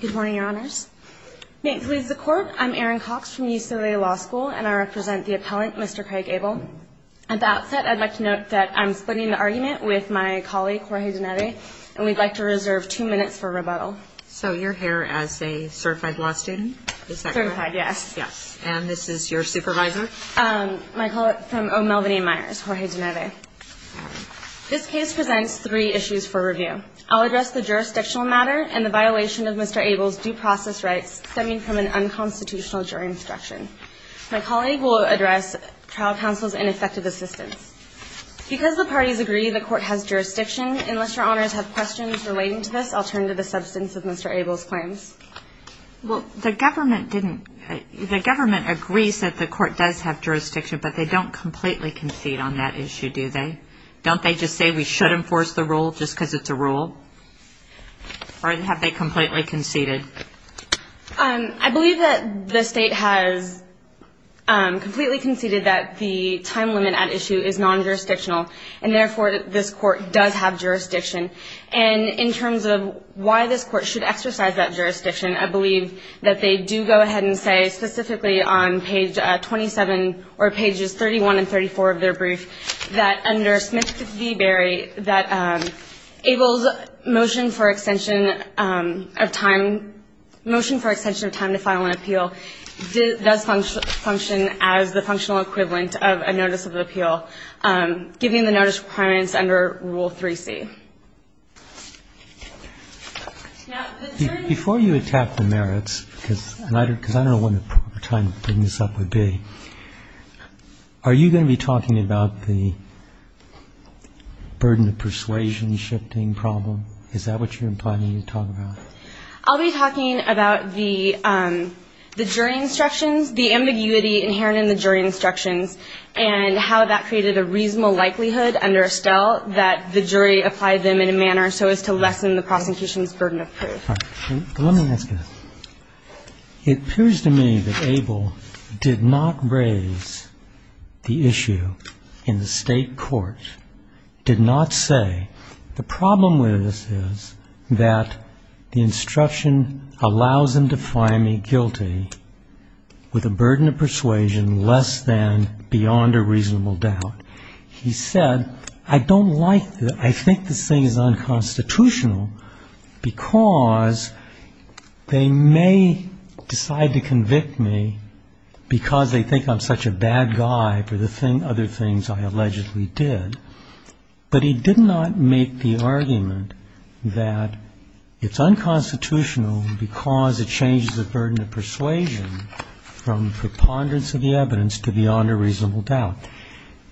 Good morning, Your Honors. Maintenance of the Court, I'm Erin Cox from UCLA Law School, and I represent the appellant, Mr. Craig Abel. At the outset, I'd like to note that I'm splitting the argument with my colleague, Jorge Dineve, and we'd like to reserve two minutes for rebuttal. So you're here as a certified law student? Certified, yes. And this is your supervisor? My colleague from O'Melveny Meyers, Jorge Dineve. This case presents three issues for review. I'll address the jurisdictional matter and the violation of Mr. Abel's due process rights stemming from an unconstitutional jury instruction. My colleague will address trial counsel's ineffective assistance. Because the parties agree the court has jurisdiction, unless Your Honors have questions relating to this, I'll turn to the substance of Mr. Abel's claims. Well, the government didn't – the government agrees that the court does have jurisdiction, but they don't completely concede on that issue, do they? Don't they just say we should enforce the rule just because it's a rule? Or have they completely conceded? I believe that the state has completely conceded that the time limit at issue is non-jurisdictional, and therefore this court does have jurisdiction. And in terms of why this court should exercise that jurisdiction, I believe that they do go ahead and say, specifically on page 27 or pages 31 and 34 of their brief, that under Smith v. Berry, that Abel's motion for extension of time – motion for extension of time to file an appeal does function as the functional equivalent of a notice of appeal, given the notice requirements under Rule 3C. Before you attack the merits, because I don't know when the proper time to bring this up would be, are you going to be talking about the burden of persuasion shifting problem? Is that what you're planning to talk about? I'll be talking about the jury instructions, the ambiguity inherent in the jury instructions, and how that created a reasonable likelihood under Estelle that the jury applied them in a manner so as to lessen the prosecution's burden of proof. Let me ask you this. It appears to me that Abel did not raise the issue in the state court, did not say, the problem with this is that the instruction allows him to find me guilty with a burden of persuasion less than beyond a reasonable doubt. He said, I think this thing is unconstitutional because they may decide to convict me because they think I'm such a bad guy for the other things I allegedly did. But he did not make the argument that it's unconstitutional because it changes the burden of persuasion from preponderance of the evidence to beyond a reasonable doubt.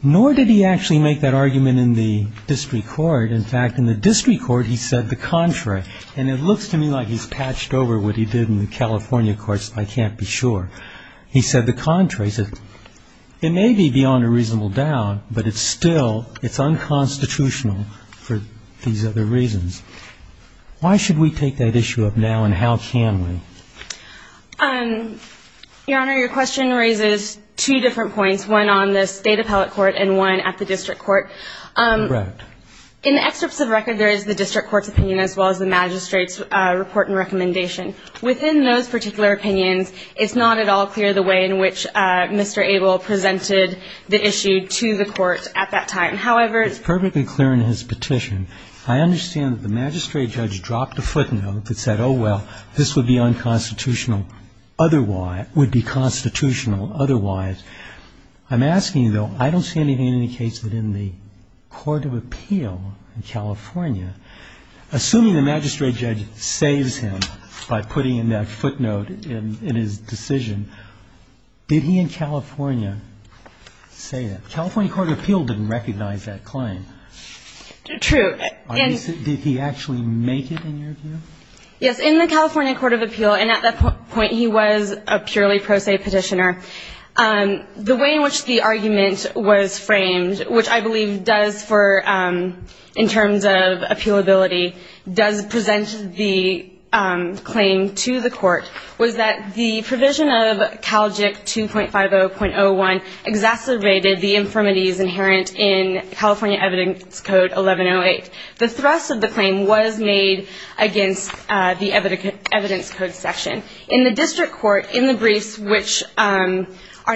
Nor did he actually make that argument in the district court. In fact, in the district court, he said the contrary. And it looks to me like he's patched over what he did in the California courts. I can't be sure. He said the contrary. He said, it may be beyond a reasonable doubt, but it's still, it's unconstitutional for these other reasons. Why should we take that issue up now, and how can we? Your Honor, your question raises two different points, one on the State appellate court and one at the district court. In the excerpts of record, there is the district court's opinion as well as the magistrate's report and recommendation. Within those particular opinions, it's not at all clear the way in which Mr. Abel presented the issue to the court at that time. However, it's perfectly clear in his petition. I understand that the magistrate judge dropped a footnote that said, oh, well, this would be unconstitutional otherwise, would be constitutional otherwise. I'm asking, though, I don't see anything in any case within the court of appeal in California. Assuming the magistrate judge saves him by putting in that footnote in his decision, did he in California say that? The California court of appeal didn't recognize that claim. True. Did he actually make it in your view? Yes. In the California court of appeal, and at that point he was a purely pro se petitioner, the way in which the argument was framed, which I believe does for, in terms of appealability, does present the claim to the court, was that the provision of CalJIC 2.50.01 exacerbated the infirmities inherent in California evidence code 1108. The thrust of the claim was made against the evidence code section. In the district court, in the briefs, which are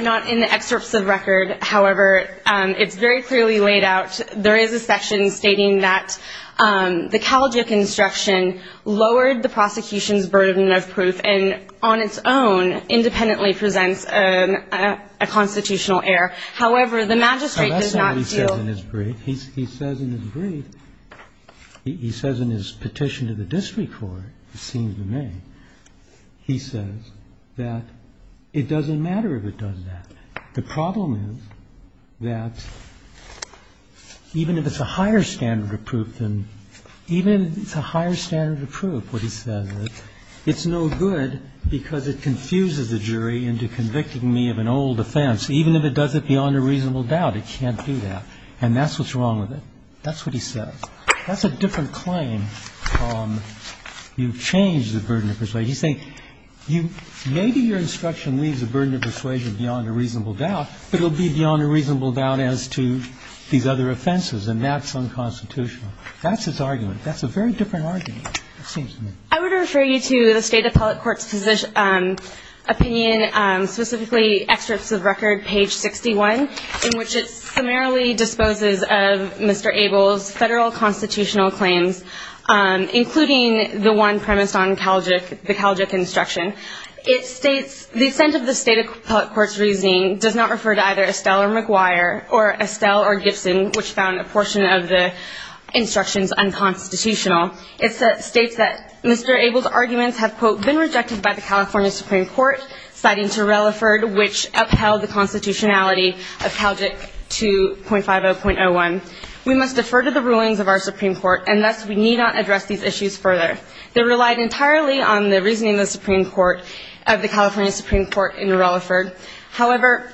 not in the excerpts of record, however, it's very clearly laid out. There is a section stating that the CalJIC instruction lowered the prosecution's burden of proof and on its own independently presents a constitutional error. However, the magistrate does not feel. And that's not what he says in his brief. He says in his brief, he says in his petition to the district court, it seems to me, he says that it doesn't matter if it does that. The problem is that even if it's a higher standard of proof than, even if it's a higher standard of proof, what he says is it's no good because it confuses the jury into convicting me of an old offense. Even if it does it beyond a reasonable doubt, it can't do that. And that's what's wrong with it. That's what he says. That's a different claim. You've changed the burden of persuasion. He's saying maybe your instruction leaves the burden of persuasion beyond a reasonable doubt, but it will be beyond a reasonable doubt as to these other offenses, and that's unconstitutional. That's his argument. That's a very different argument, it seems to me. I would refer you to the State Appellate Court's opinion, specifically Excerpts of Record, page 61, in which it summarily disposes of Mr. Abel's Federal constitutional claims, including the one premised on the Calgic instruction. It states, The assent of the State Appellate Court's reasoning does not refer to either Estelle or Gibson, which found a portion of the instructions unconstitutional. It states that Mr. Abel's arguments have, quote, been rejected by the California Supreme Court, citing Terrelliford, which upheld the constitutionality of Calgic 2.50.01. We must defer to the rulings of our Supreme Court, and thus we need not address these issues further. They relied entirely on the reasoning of the California Supreme Court in Terrelliford. However,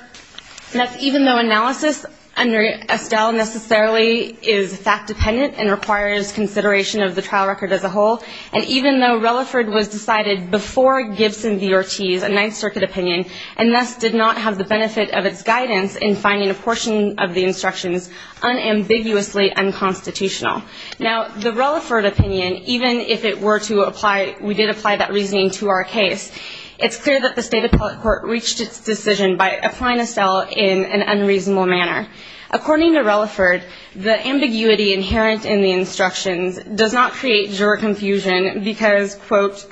even though analysis under Estelle necessarily is fact-dependent and requires consideration of the trial record as a whole, and even though Terrelliford was decided before Gibson v. Ortiz, a Ninth Circuit opinion, and thus did not have the benefit of its guidance in finding a portion of the instructions unambiguously unconstitutional. Now, the Terrelliford opinion, even if it were to apply, we did apply that reasoning to our case, it's clear that the State Appellate Court reached its decision by applying Estelle in an unreasonable manner. According to Terrelliford, the ambiguity inherent in the instructions does not create juror confusion because, quote,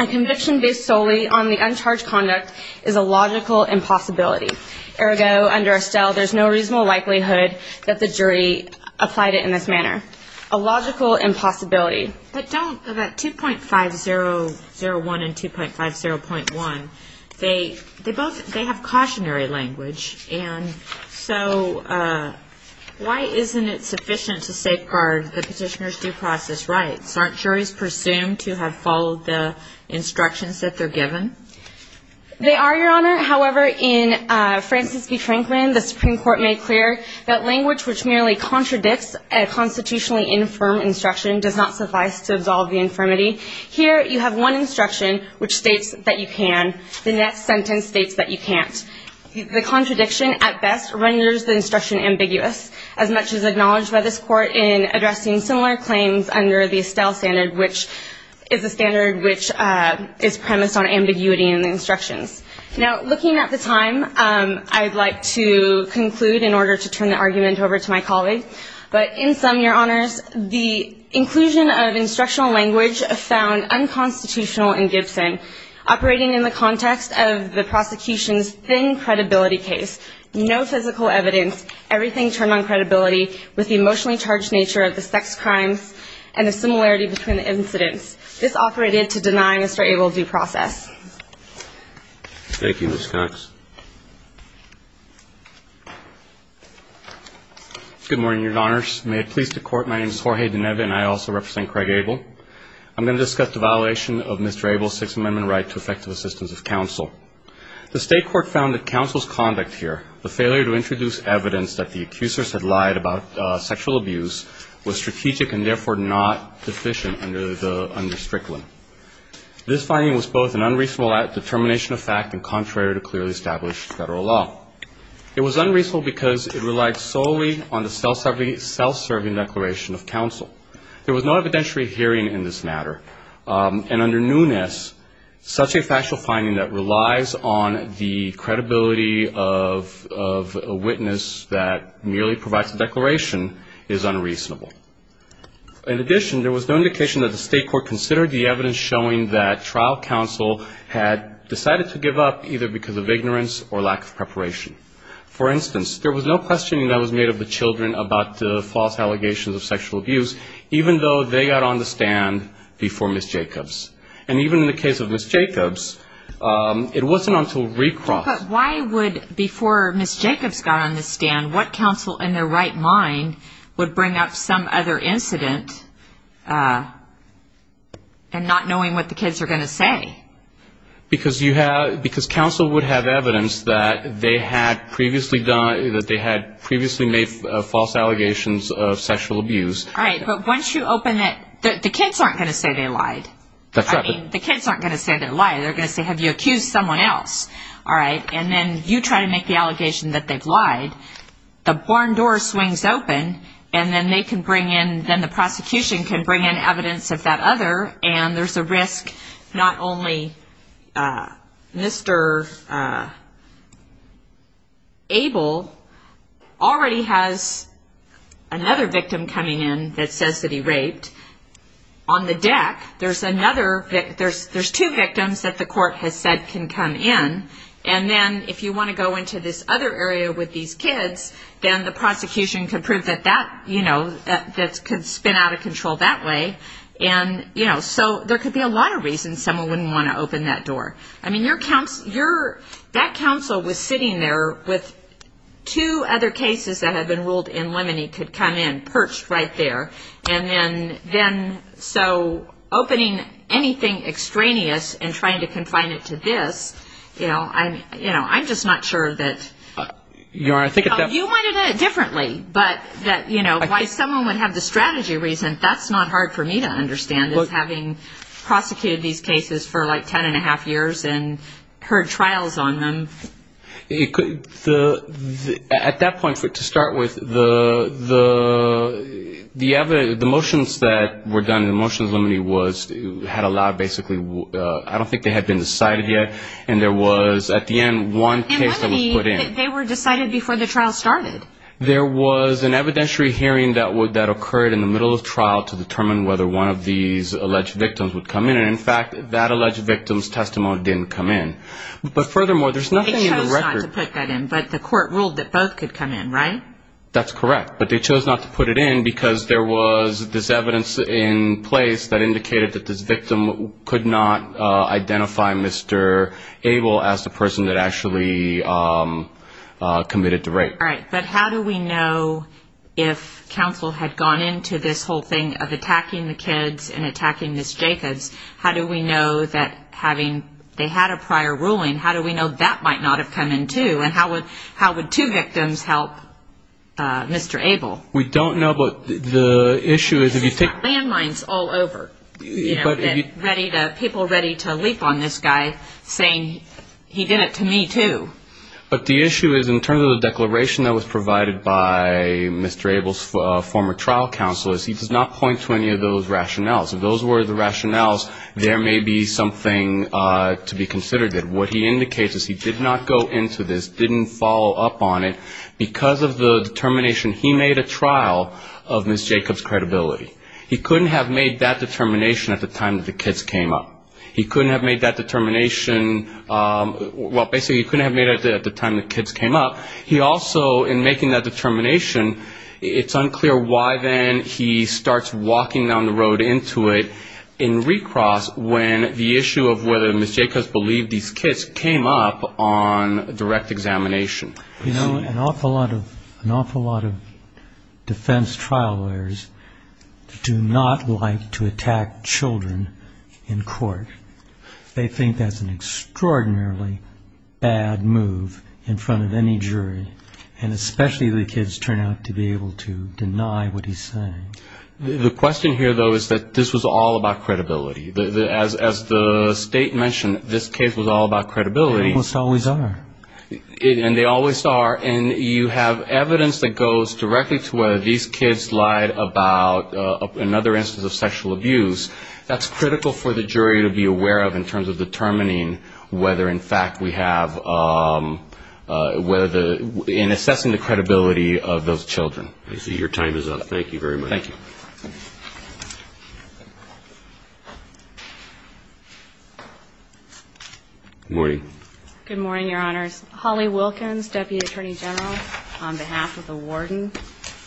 a conviction based solely on the uncharged conduct is a logical impossibility. Ergo, under Estelle, there's no reasonable likelihood that the jury applied it in this manner. A logical impossibility. But don't the 2.5001 and 2.50.1, they both have cautionary language, and so why isn't it sufficient to safeguard the petitioner's due process rights? Aren't juries presumed to have followed the instructions that they're given? They are, Your Honor. However, in Francis B. Franklin, the Supreme Court made clear that language which merely contradicts a constitutionally infirm instruction does not suffice to absolve the infirmity. Here, you have one instruction which states that you can, the next sentence states that you can't. The contradiction, at best, renders the instruction ambiguous, as much as acknowledged by this Court in addressing similar claims under the Estelle standard, which is a standard which is premised on ambiguity in the instructions. Now, looking at the time, I'd like to conclude in order to turn the argument over to my colleague, but in sum, Your Honors, the inclusion of instructional language found unconstitutional in Gibson. Operating in the context of the prosecution's thin credibility case, no physical evidence, everything turned on credibility with the emotionally charged nature of the sex crimes and the similarity between the incidents. This operated to deny Mr. Abel due process. Thank you, Ms. Cox. Good morning, Your Honors. May it please the Court, my name is Jorge Dineva, and I also represent Craig Abel. I'm going to discuss the violation of Mr. Abel's Sixth Amendment right to effective assistance of counsel. The State Court found that counsel's conduct here, the failure to introduce evidence that the accusers had lied about sexual abuse, was strategic and, therefore, not deficient under Strickland. This finding was both an unreasonable determination of fact and contrary to clearly stated principles. It was unreasonable because it relied solely on the self-serving declaration of counsel. There was no evidentiary hearing in this matter, and under newness, such a factual finding that relies on the credibility of a witness that merely provides a declaration is unreasonable. In addition, there was no indication that the State Court considered the evidence showing that trial counsel had decided to give up either because of ignorance or lack of preparation. For instance, there was no questioning that was made of the children about the false allegations of sexual abuse, even though they got on the stand before Ms. Jacobs. And even in the case of Ms. Jacobs, it wasn't until recrossed. But why would, before Ms. Jacobs got on the stand, what counsel in their right mind would bring up some other incident and not knowing what the kids are going to say? Because counsel would have evidence that they had previously made false allegations of sexual abuse. All right. But once you open it, the kids aren't going to say they lied. That's right. I mean, the kids aren't going to say they lied. They're going to say, have you accused someone else? All right. And then you try to make the allegation that they've lied. The barn door swings open, and then they can bring in, then the prosecution can bring in evidence of that other. And there's a risk not only Mr. Abel already has another victim coming in that says that he raped. On the deck, there's two victims that the court has said can come in. And then if you want to go into this other area with these kids, then the prosecution can prove that that could spin out of control that way. And so there could be a lot of reasons someone wouldn't want to open that door. I mean, that counsel was sitting there with two other cases that have been ruled in limine could come in, perched right there. And then so opening anything extraneous and trying to confine it to this, you know, I'm just not sure that you might have done it differently. But that, you know, why someone would have the strategy reason, that's not hard for me to understand, is having prosecuted these cases for like ten and a half years and heard trials on them. At that point, to start with, the motions that were done in the motions limine had allowed basically, I don't think they had been decided yet, and there was at the end one case that was put in. It must be that they were decided before the trial started. There was an evidentiary hearing that occurred in the middle of trial to determine whether one of these alleged victims would come in. And, in fact, that alleged victim's testimony didn't come in. But, furthermore, there's nothing in the record. They chose not to put that in, but the court ruled that both could come in, right? That's correct. But they chose not to put it in because there was this evidence in place that indicated that this victim could not identify Mr. Abel as the person that actually committed the rape. All right. But how do we know if counsel had gone into this whole thing of attacking the kids and attacking Ms. Jacobs, how do we know that having they had a prior ruling, how do we know that might not have come in, too? And how would two victims help Mr. Abel? We don't know, but the issue is if you take... Landmines all over. You know, people ready to leap on this guy saying he did it to me, too. But the issue is in terms of the declaration that was provided by Mr. Abel's former trial counsel is he does not point to any of those rationales. If those were the rationales, there may be something to be considered. What he indicates is he did not go into this, didn't follow up on it, because of the determination he made at trial of Ms. Jacobs' credibility. He couldn't have made that determination at the time that the kids came up. He couldn't have made that determination at the time the kids came up. He also, in making that determination, it's unclear why then he starts walking down the road into it in recross when the issue of whether Ms. Jacobs believed these kids came up on direct examination. You know, an awful lot of defense trial lawyers do not like to attack children in court. They think that's an extraordinarily bad move in front of any jury, and especially the kids turn out to be able to deny what he's saying. The question here, though, is that this was all about credibility. As the State mentioned, this case was all about credibility. Almost always are. And they always are. And you have evidence that goes directly to whether these kids lied about another instance of sexual abuse. That's critical for the jury to be aware of in terms of determining whether, in fact, we have in assessing the credibility of those children. I see your time is up. Thank you very much. Thank you. Good morning. Good morning, Your Honors. Holly Wilkins, Deputy Attorney General, on behalf of the warden.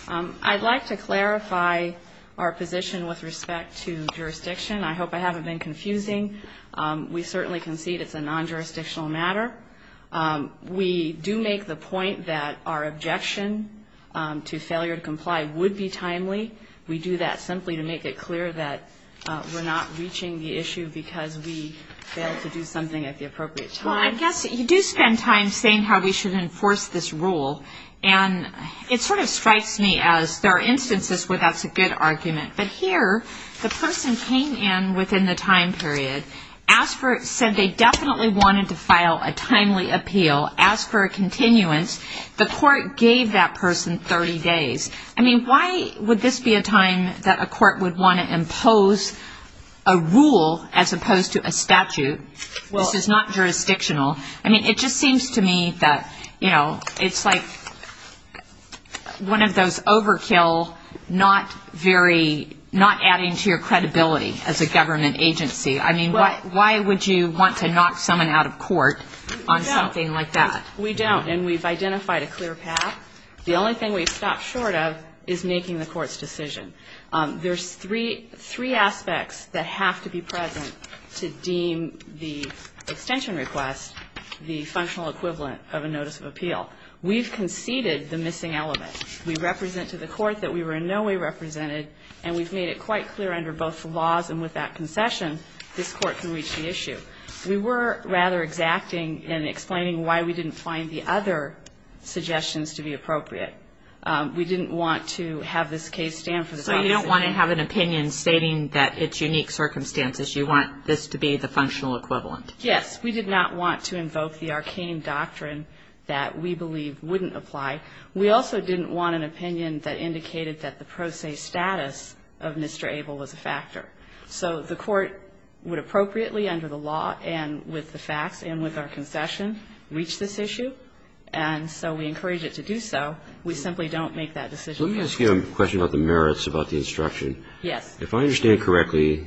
I'd like to clarify our position with respect to jurisdiction. I hope I haven't been confusing. We certainly concede it's a non-jurisdictional matter. We do make the point that our objection to failure to comply would be timely. We do that simply to make it clear that we're not reaching the issue because we failed to do something at the appropriate time. Well, I guess you do spend time saying how we should enforce this rule, and it sort of strikes me as there are instances where that's a good argument. But here, the person came in within the time period, said they definitely wanted to file a timely appeal, asked for a continuance. The court gave that person 30 days. I mean, why would this be a time that a court would want to impose a rule as opposed to a statute? This is not jurisdictional. I mean, it just seems to me that it's like one of those overkill, not adding to your credibility as a government agency. I mean, why would you want to knock someone out of court on something like that? We don't, and we've identified a clear path. The only thing we've stopped short of is making the court's decision. There's three aspects that have to be present to deem the extension request the functional equivalent of a notice of appeal. We've conceded the missing element. We represent to the court that we were in no way represented, and we've made it quite clear under both the laws and with that concession this court can reach the issue. We were rather exacting and explaining why we didn't find the other suggestions to be appropriate. We didn't want to have this case stand for the time being. So you don't want to have an opinion stating that it's unique circumstances. You want this to be the functional equivalent. Yes. We did not want to invoke the arcane doctrine that we believe wouldn't apply. We also didn't want an opinion that indicated that the pro se status of Mr. Abel was a factor. So the court would appropriately under the law and with the facts and with our concession reach this issue, and so we encourage it to do so. We simply don't make that decision. Let me ask you a question about the merits about the instruction. Yes. If I understand correctly,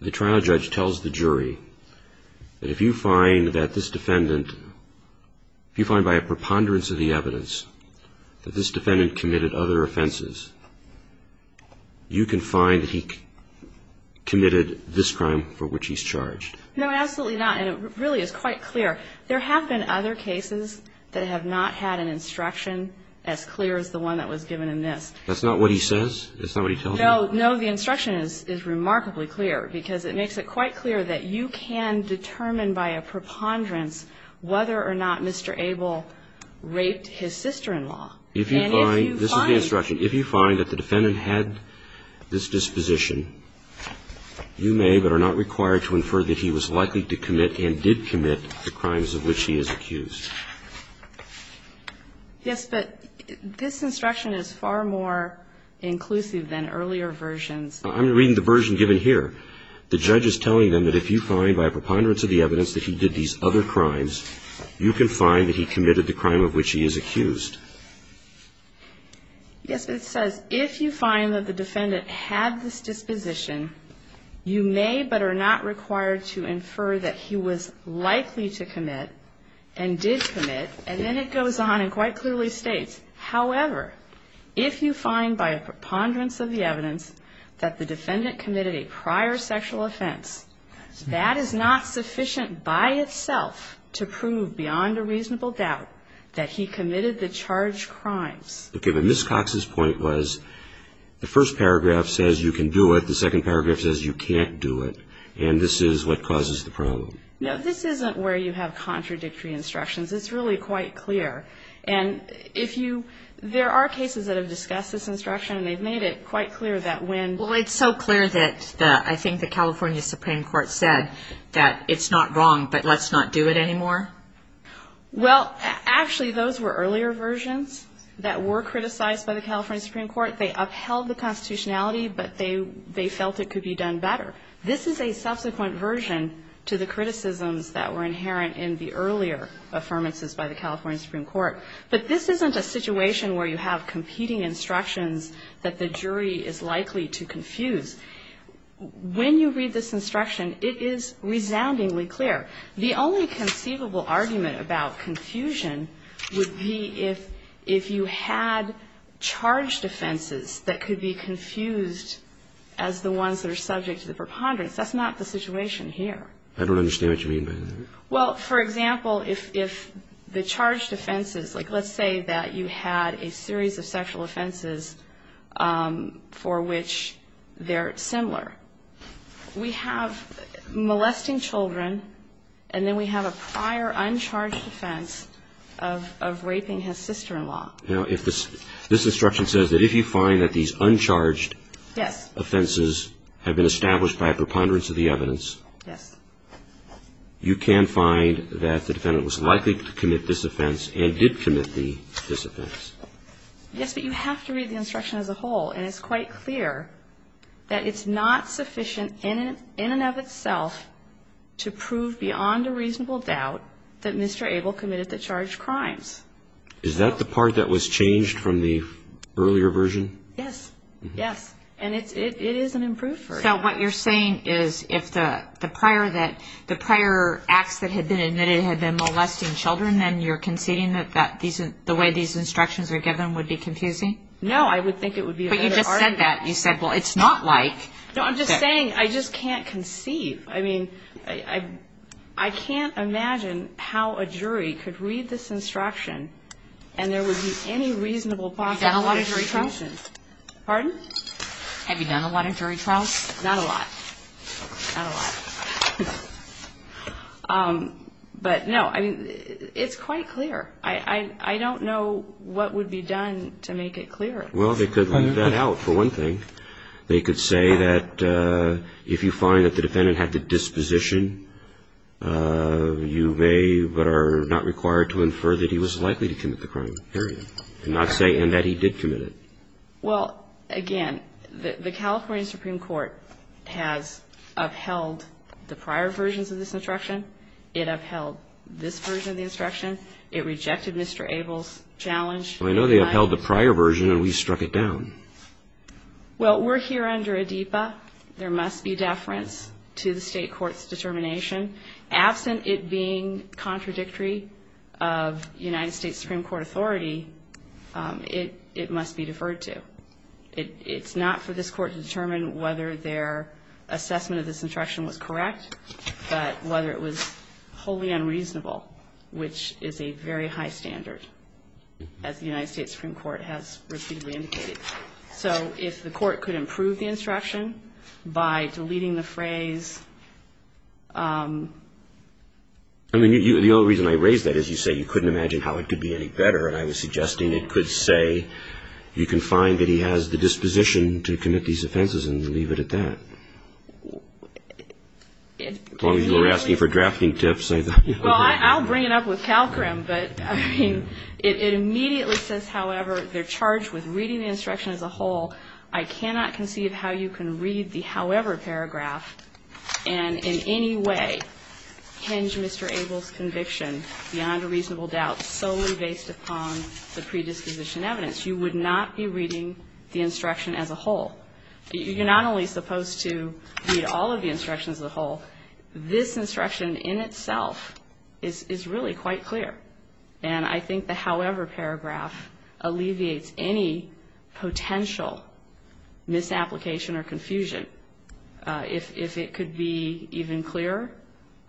the trial judge tells the jury that if you find that this defendant, if you find by a preponderance of the evidence that this defendant committed other offenses, you can find that he committed this crime for which he's charged. No, absolutely not. And it really is quite clear. There have been other cases that have not had an instruction as clear as the one that was given in this. That's not what he says? That's not what he tells you? No. No. The instruction is remarkably clear because it makes it quite clear that you can determine by a preponderance whether or not Mr. Abel raped his sister-in-law. And if you find this is the instruction. If you find that the defendant had this disposition, you may but are not required to infer that he was likely to commit and did commit the crimes of which he is accused. Yes, but this instruction is far more inclusive than earlier versions. I'm reading the version given here. The judge is telling them that if you find by a preponderance of the evidence that he did these other crimes, you can find that he committed the crime of which he is accused. Yes, but it says if you find that the defendant had this disposition, you may but are not required to infer that he was likely to commit and did commit. And then it goes on and quite clearly states, however, if you find by a preponderance of the evidence that the defendant committed a prior sexual offense, that is not sufficient by itself to prove beyond a reasonable doubt that he committed the charged crimes. Okay, but Ms. Cox's point was the first paragraph says you can do it. The second paragraph says you can't do it. And this is what causes the problem. No, this isn't where you have contradictory instructions. It's really quite clear. And if you ‑‑ there are cases that have discussed this instruction, and they've made it quite clear that when ‑‑ Well, it's so clear that I think the California Supreme Court said that it's not wrong, but let's not do it anymore. Well, actually, those were earlier versions that were criticized by the California Supreme Court. They upheld the constitutionality, but they felt it could be done better. This is a subsequent version to the criticisms that were inherent in the earlier affirmances by the California Supreme Court. But this isn't a situation where you have competing instructions that the jury is likely to confuse. When you read this instruction, it is resoundingly clear. The only conceivable argument about confusion would be if you had charged offenses that could be confused as the ones that are subject to the preponderance. That's not the situation here. I don't understand what you mean by that. Well, for example, if the charged offenses, like let's say that you had a series of sexual offenses for which they're similar. We have molesting children, and then we have a prior uncharged offense of raping his sister‑in‑law. Now, if this ‑‑ this instruction says that if you find that these uncharged offenses have been established by a preponderance of the evidence. Yes. You can find that the defendant was likely to commit this offense and did commit this offense. Yes, but you have to read the instruction as a whole. And it's quite clear that it's not sufficient in and of itself to prove beyond a reasonable doubt that Mr. Abel committed the charged crimes. Is that the part that was changed from the earlier version? Yes. Yes. And it is an improved version. So what you're saying is if the prior acts that had been admitted had been molesting children, then you're conceding that the way these instructions are given would be confusing? No, I would think it would be a better argument. But you just said that. You said, well, it's not like ‑‑ No, I'm just saying I just can't conceive. I mean, I can't imagine how a jury could read this instruction and there would be any reasonable possible ‑‑ Have you done a lot of jury trials? Pardon? Have you done a lot of jury trials? Not a lot. Not a lot. But, no, I mean, it's quite clear. I don't know what would be done to make it clearer. Well, they could leave that out, for one thing. They could say that if you find that the defendant had the disposition, you may but are not required to infer that he was likely to commit the crime, period, and not say in that he did commit it. Well, again, the California Supreme Court has upheld the prior versions of this instruction. It upheld this version of the instruction. It rejected Mr. Abel's challenge. Well, I know they upheld the prior version and we struck it down. Well, we're here under ADEPA. There must be deference to the state court's determination. Absent it being contradictory of United States Supreme Court authority, it must be deferred to. It's not for this court to determine whether their assessment of this instruction was correct but whether it was wholly unreasonable, which is a very high standard, as the United States Supreme Court has repeatedly indicated. So if the court could improve the instruction by deleting the phrase... I mean, the only reason I raise that is you say you couldn't imagine how it could be any better, and I was suggesting it could say you can find that he has the disposition to commit these offenses and leave it at that. As long as you're asking for drafting tips, I thought... Well, I'll bring it up with CalCRM, but, I mean, it immediately says, however, they're charged with reading the instruction as a whole. I cannot conceive how you can read the however paragraph and in any way hinge Mr. Abel's conviction beyond a reasonable doubt solely based upon the predisposition evidence. You would not be reading the instruction as a whole. You're not only supposed to read all of the instructions as a whole. This instruction in itself is really quite clear, and I think the however paragraph alleviates any potential misapplication or confusion. If it could be even clearer,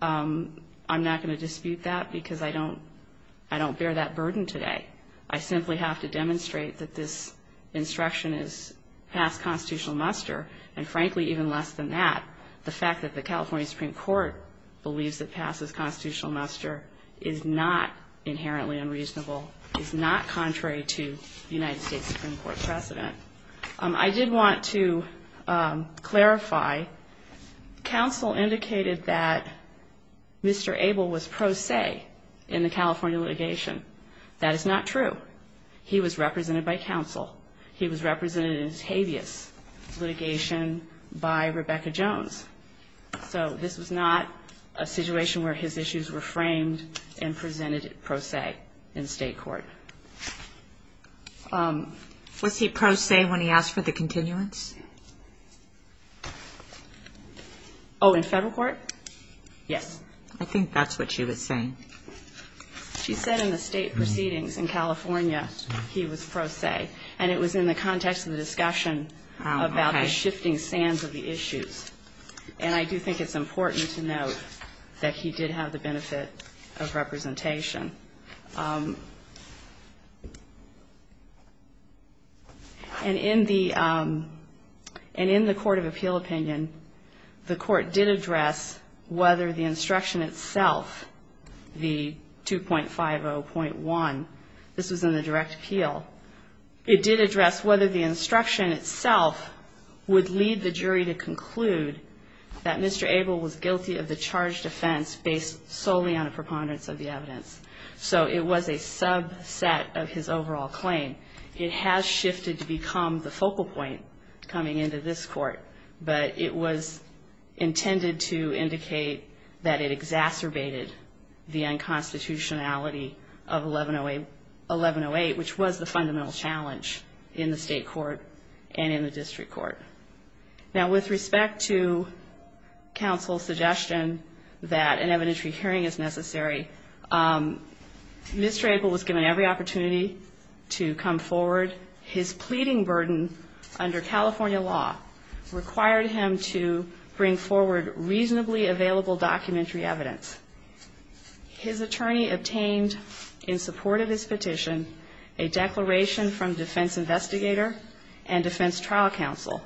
I'm not going to dispute that because I don't bear that burden today. I simply have to demonstrate that this instruction is past constitutional muster, and frankly even less than that, the fact that the California Supreme Court believes it passes constitutional muster is not inherently unreasonable, is not contrary to the United States Supreme Court precedent. I did want to clarify. Counsel indicated that Mr. Abel was pro se in the California litigation. That is not true. He was represented by counsel. He was represented in his habeas litigation by Rebecca Jones. So this was not a situation where his issues were framed and presented pro se in state court. Was he pro se when he asked for the continuance? Oh, in federal court? Yes. I think that's what she was saying. She said in the state proceedings in California he was pro se, and it was in the context of the discussion about the shifting sands of the issues. And I do think it's important to note that he did have the benefit of representation. And in the court of appeal opinion, the court did address whether the instruction itself, the 2.50.1, this was in the direct appeal, it did address whether the instruction itself would lead the jury to conclude that Mr. Abel was guilty of the charged offense based solely on a preponderance of the evidence. So it was a subset of his overall claim. It has shifted to become the focal point coming into this court, but it was intended to indicate that it exacerbated the unconstitutionality of 1108, which was the fundamental challenge in the state court and in the district court. Now, with respect to counsel's suggestion that an evidentiary hearing is necessary, Mr. Abel was given every opportunity to come forward. But his pleading burden under California law required him to bring forward reasonably available documentary evidence. His attorney obtained, in support of his petition, a declaration from defense investigator and defense trial counsel.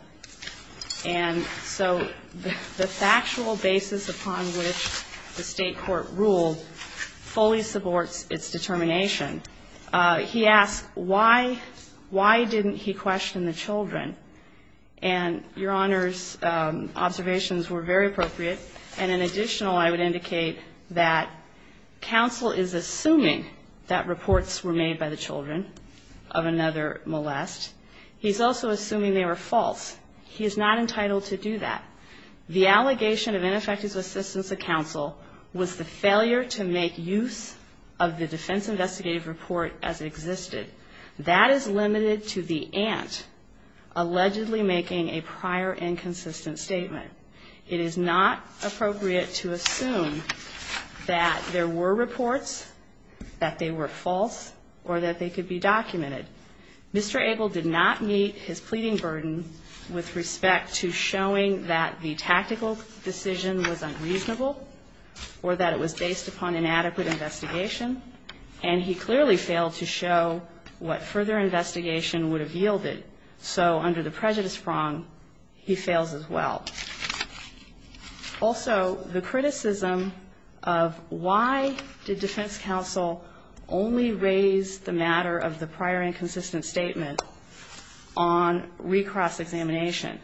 And so the factual basis upon which the state court ruled fully supports its determination. He asked why didn't he question the children. And, Your Honors, observations were very appropriate. And in additional, I would indicate that counsel is assuming that reports were made by the children of another molest. He's also assuming they were false. He is not entitled to do that. The allegation of ineffective assistance of counsel was the failure to make use of the defense investigative report as it existed. That is limited to the aunt allegedly making a prior inconsistent statement. It is not appropriate to assume that there were reports, that they were false, or that they could be documented. Mr. Abel did not meet his pleading burden with respect to showing that the tactical decision was unreasonable or that it was based upon inadequate investigation. And he clearly failed to show what further investigation would have yielded. So under the prejudice prong, he fails as well. Also, the criticism of why did defense counsel only raise the matter of the prior inconsistent statement on recross examination.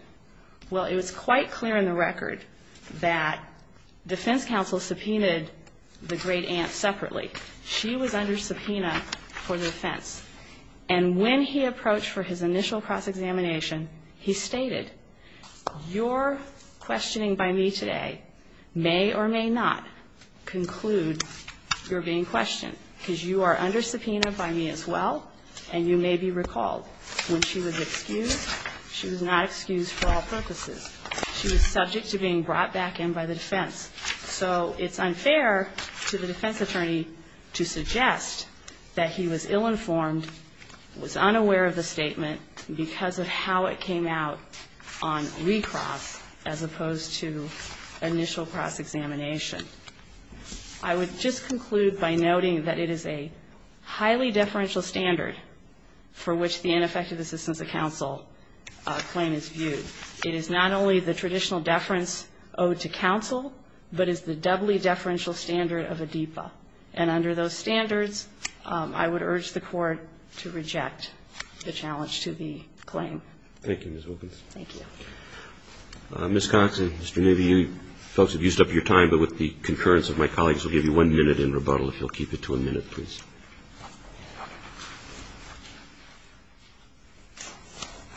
Well, it was quite clear in the record that defense counsel subpoenaed the great aunt separately. She was under subpoena for the offense. And when he approached for his initial cross examination, he stated, your questioning by me today may or may not conclude your being questioned, because you are under subpoena by me as well, and you may be recalled. When she was excused, she was not excused for all purposes. She was subject to being brought back in by the defense. So it's unfair to the defense attorney to suggest that he was ill-informed, was unaware of the statement because of how it came out on recross as opposed to initial cross examination. I would just conclude by noting that it is a highly deferential standard for which the ineffective assistance of counsel claim is viewed. It is not only the traditional deference owed to counsel, but it's the doubly deferential standard of a DEPA. And under those standards, I would urge the Court to reject the challenge to the claim. Thank you, Ms. Wilkins. Thank you. Ms. Cox and Mr. Newby, you folks have used up your time, but with the concurrence of my colleagues, we'll give you one minute in rebuttal, if you'll keep it to a minute, please.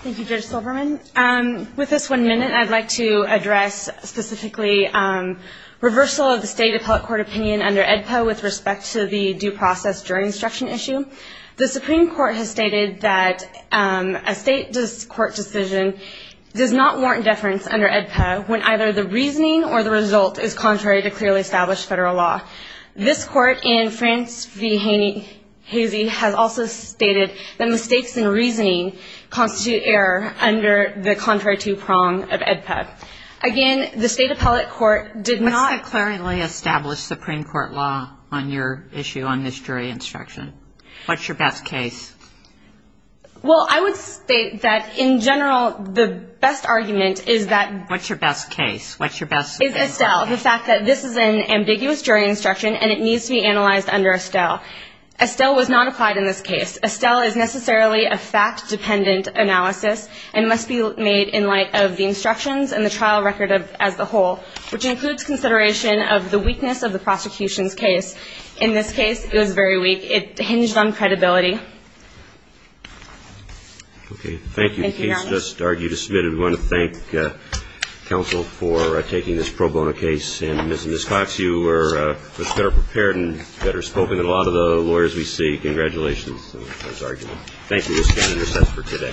Thank you, Judge Silverman. With this one minute, I'd like to address specifically reversal of the state appellate court opinion under AEDPA with respect to the due process jury instruction issue. The Supreme Court has stated that a state court decision does not warrant deference under AEDPA when either the reasoning or the result is contrary to clearly established federal law. This court in France v. Hazy has also stated that mistakes in reasoning constitute error under the contrary to prong of AEDPA. Again, the state appellate court did not... What's your best case? Well, I would state that in general, the best argument is that... What's your best case? What's your best... ...is Estelle, the fact that this is an ambiguous jury instruction and it needs to be analyzed under Estelle. Estelle was not applied in this case. Estelle is necessarily a fact-dependent analysis and must be made in light of the instructions and the trial record as the whole, which includes consideration of the weakness of the prosecution's case. In this case, it was very weak. It hinged on credibility. Okay. Thank you. Thank you, Your Honor. The case just argued is submitted. We want to thank counsel for taking this pro bono case. And Ms. Cox, you were better prepared and better spoken than a lot of the lawyers we see. Congratulations on this argument. Thank you. This can be recessed for today. Thank you.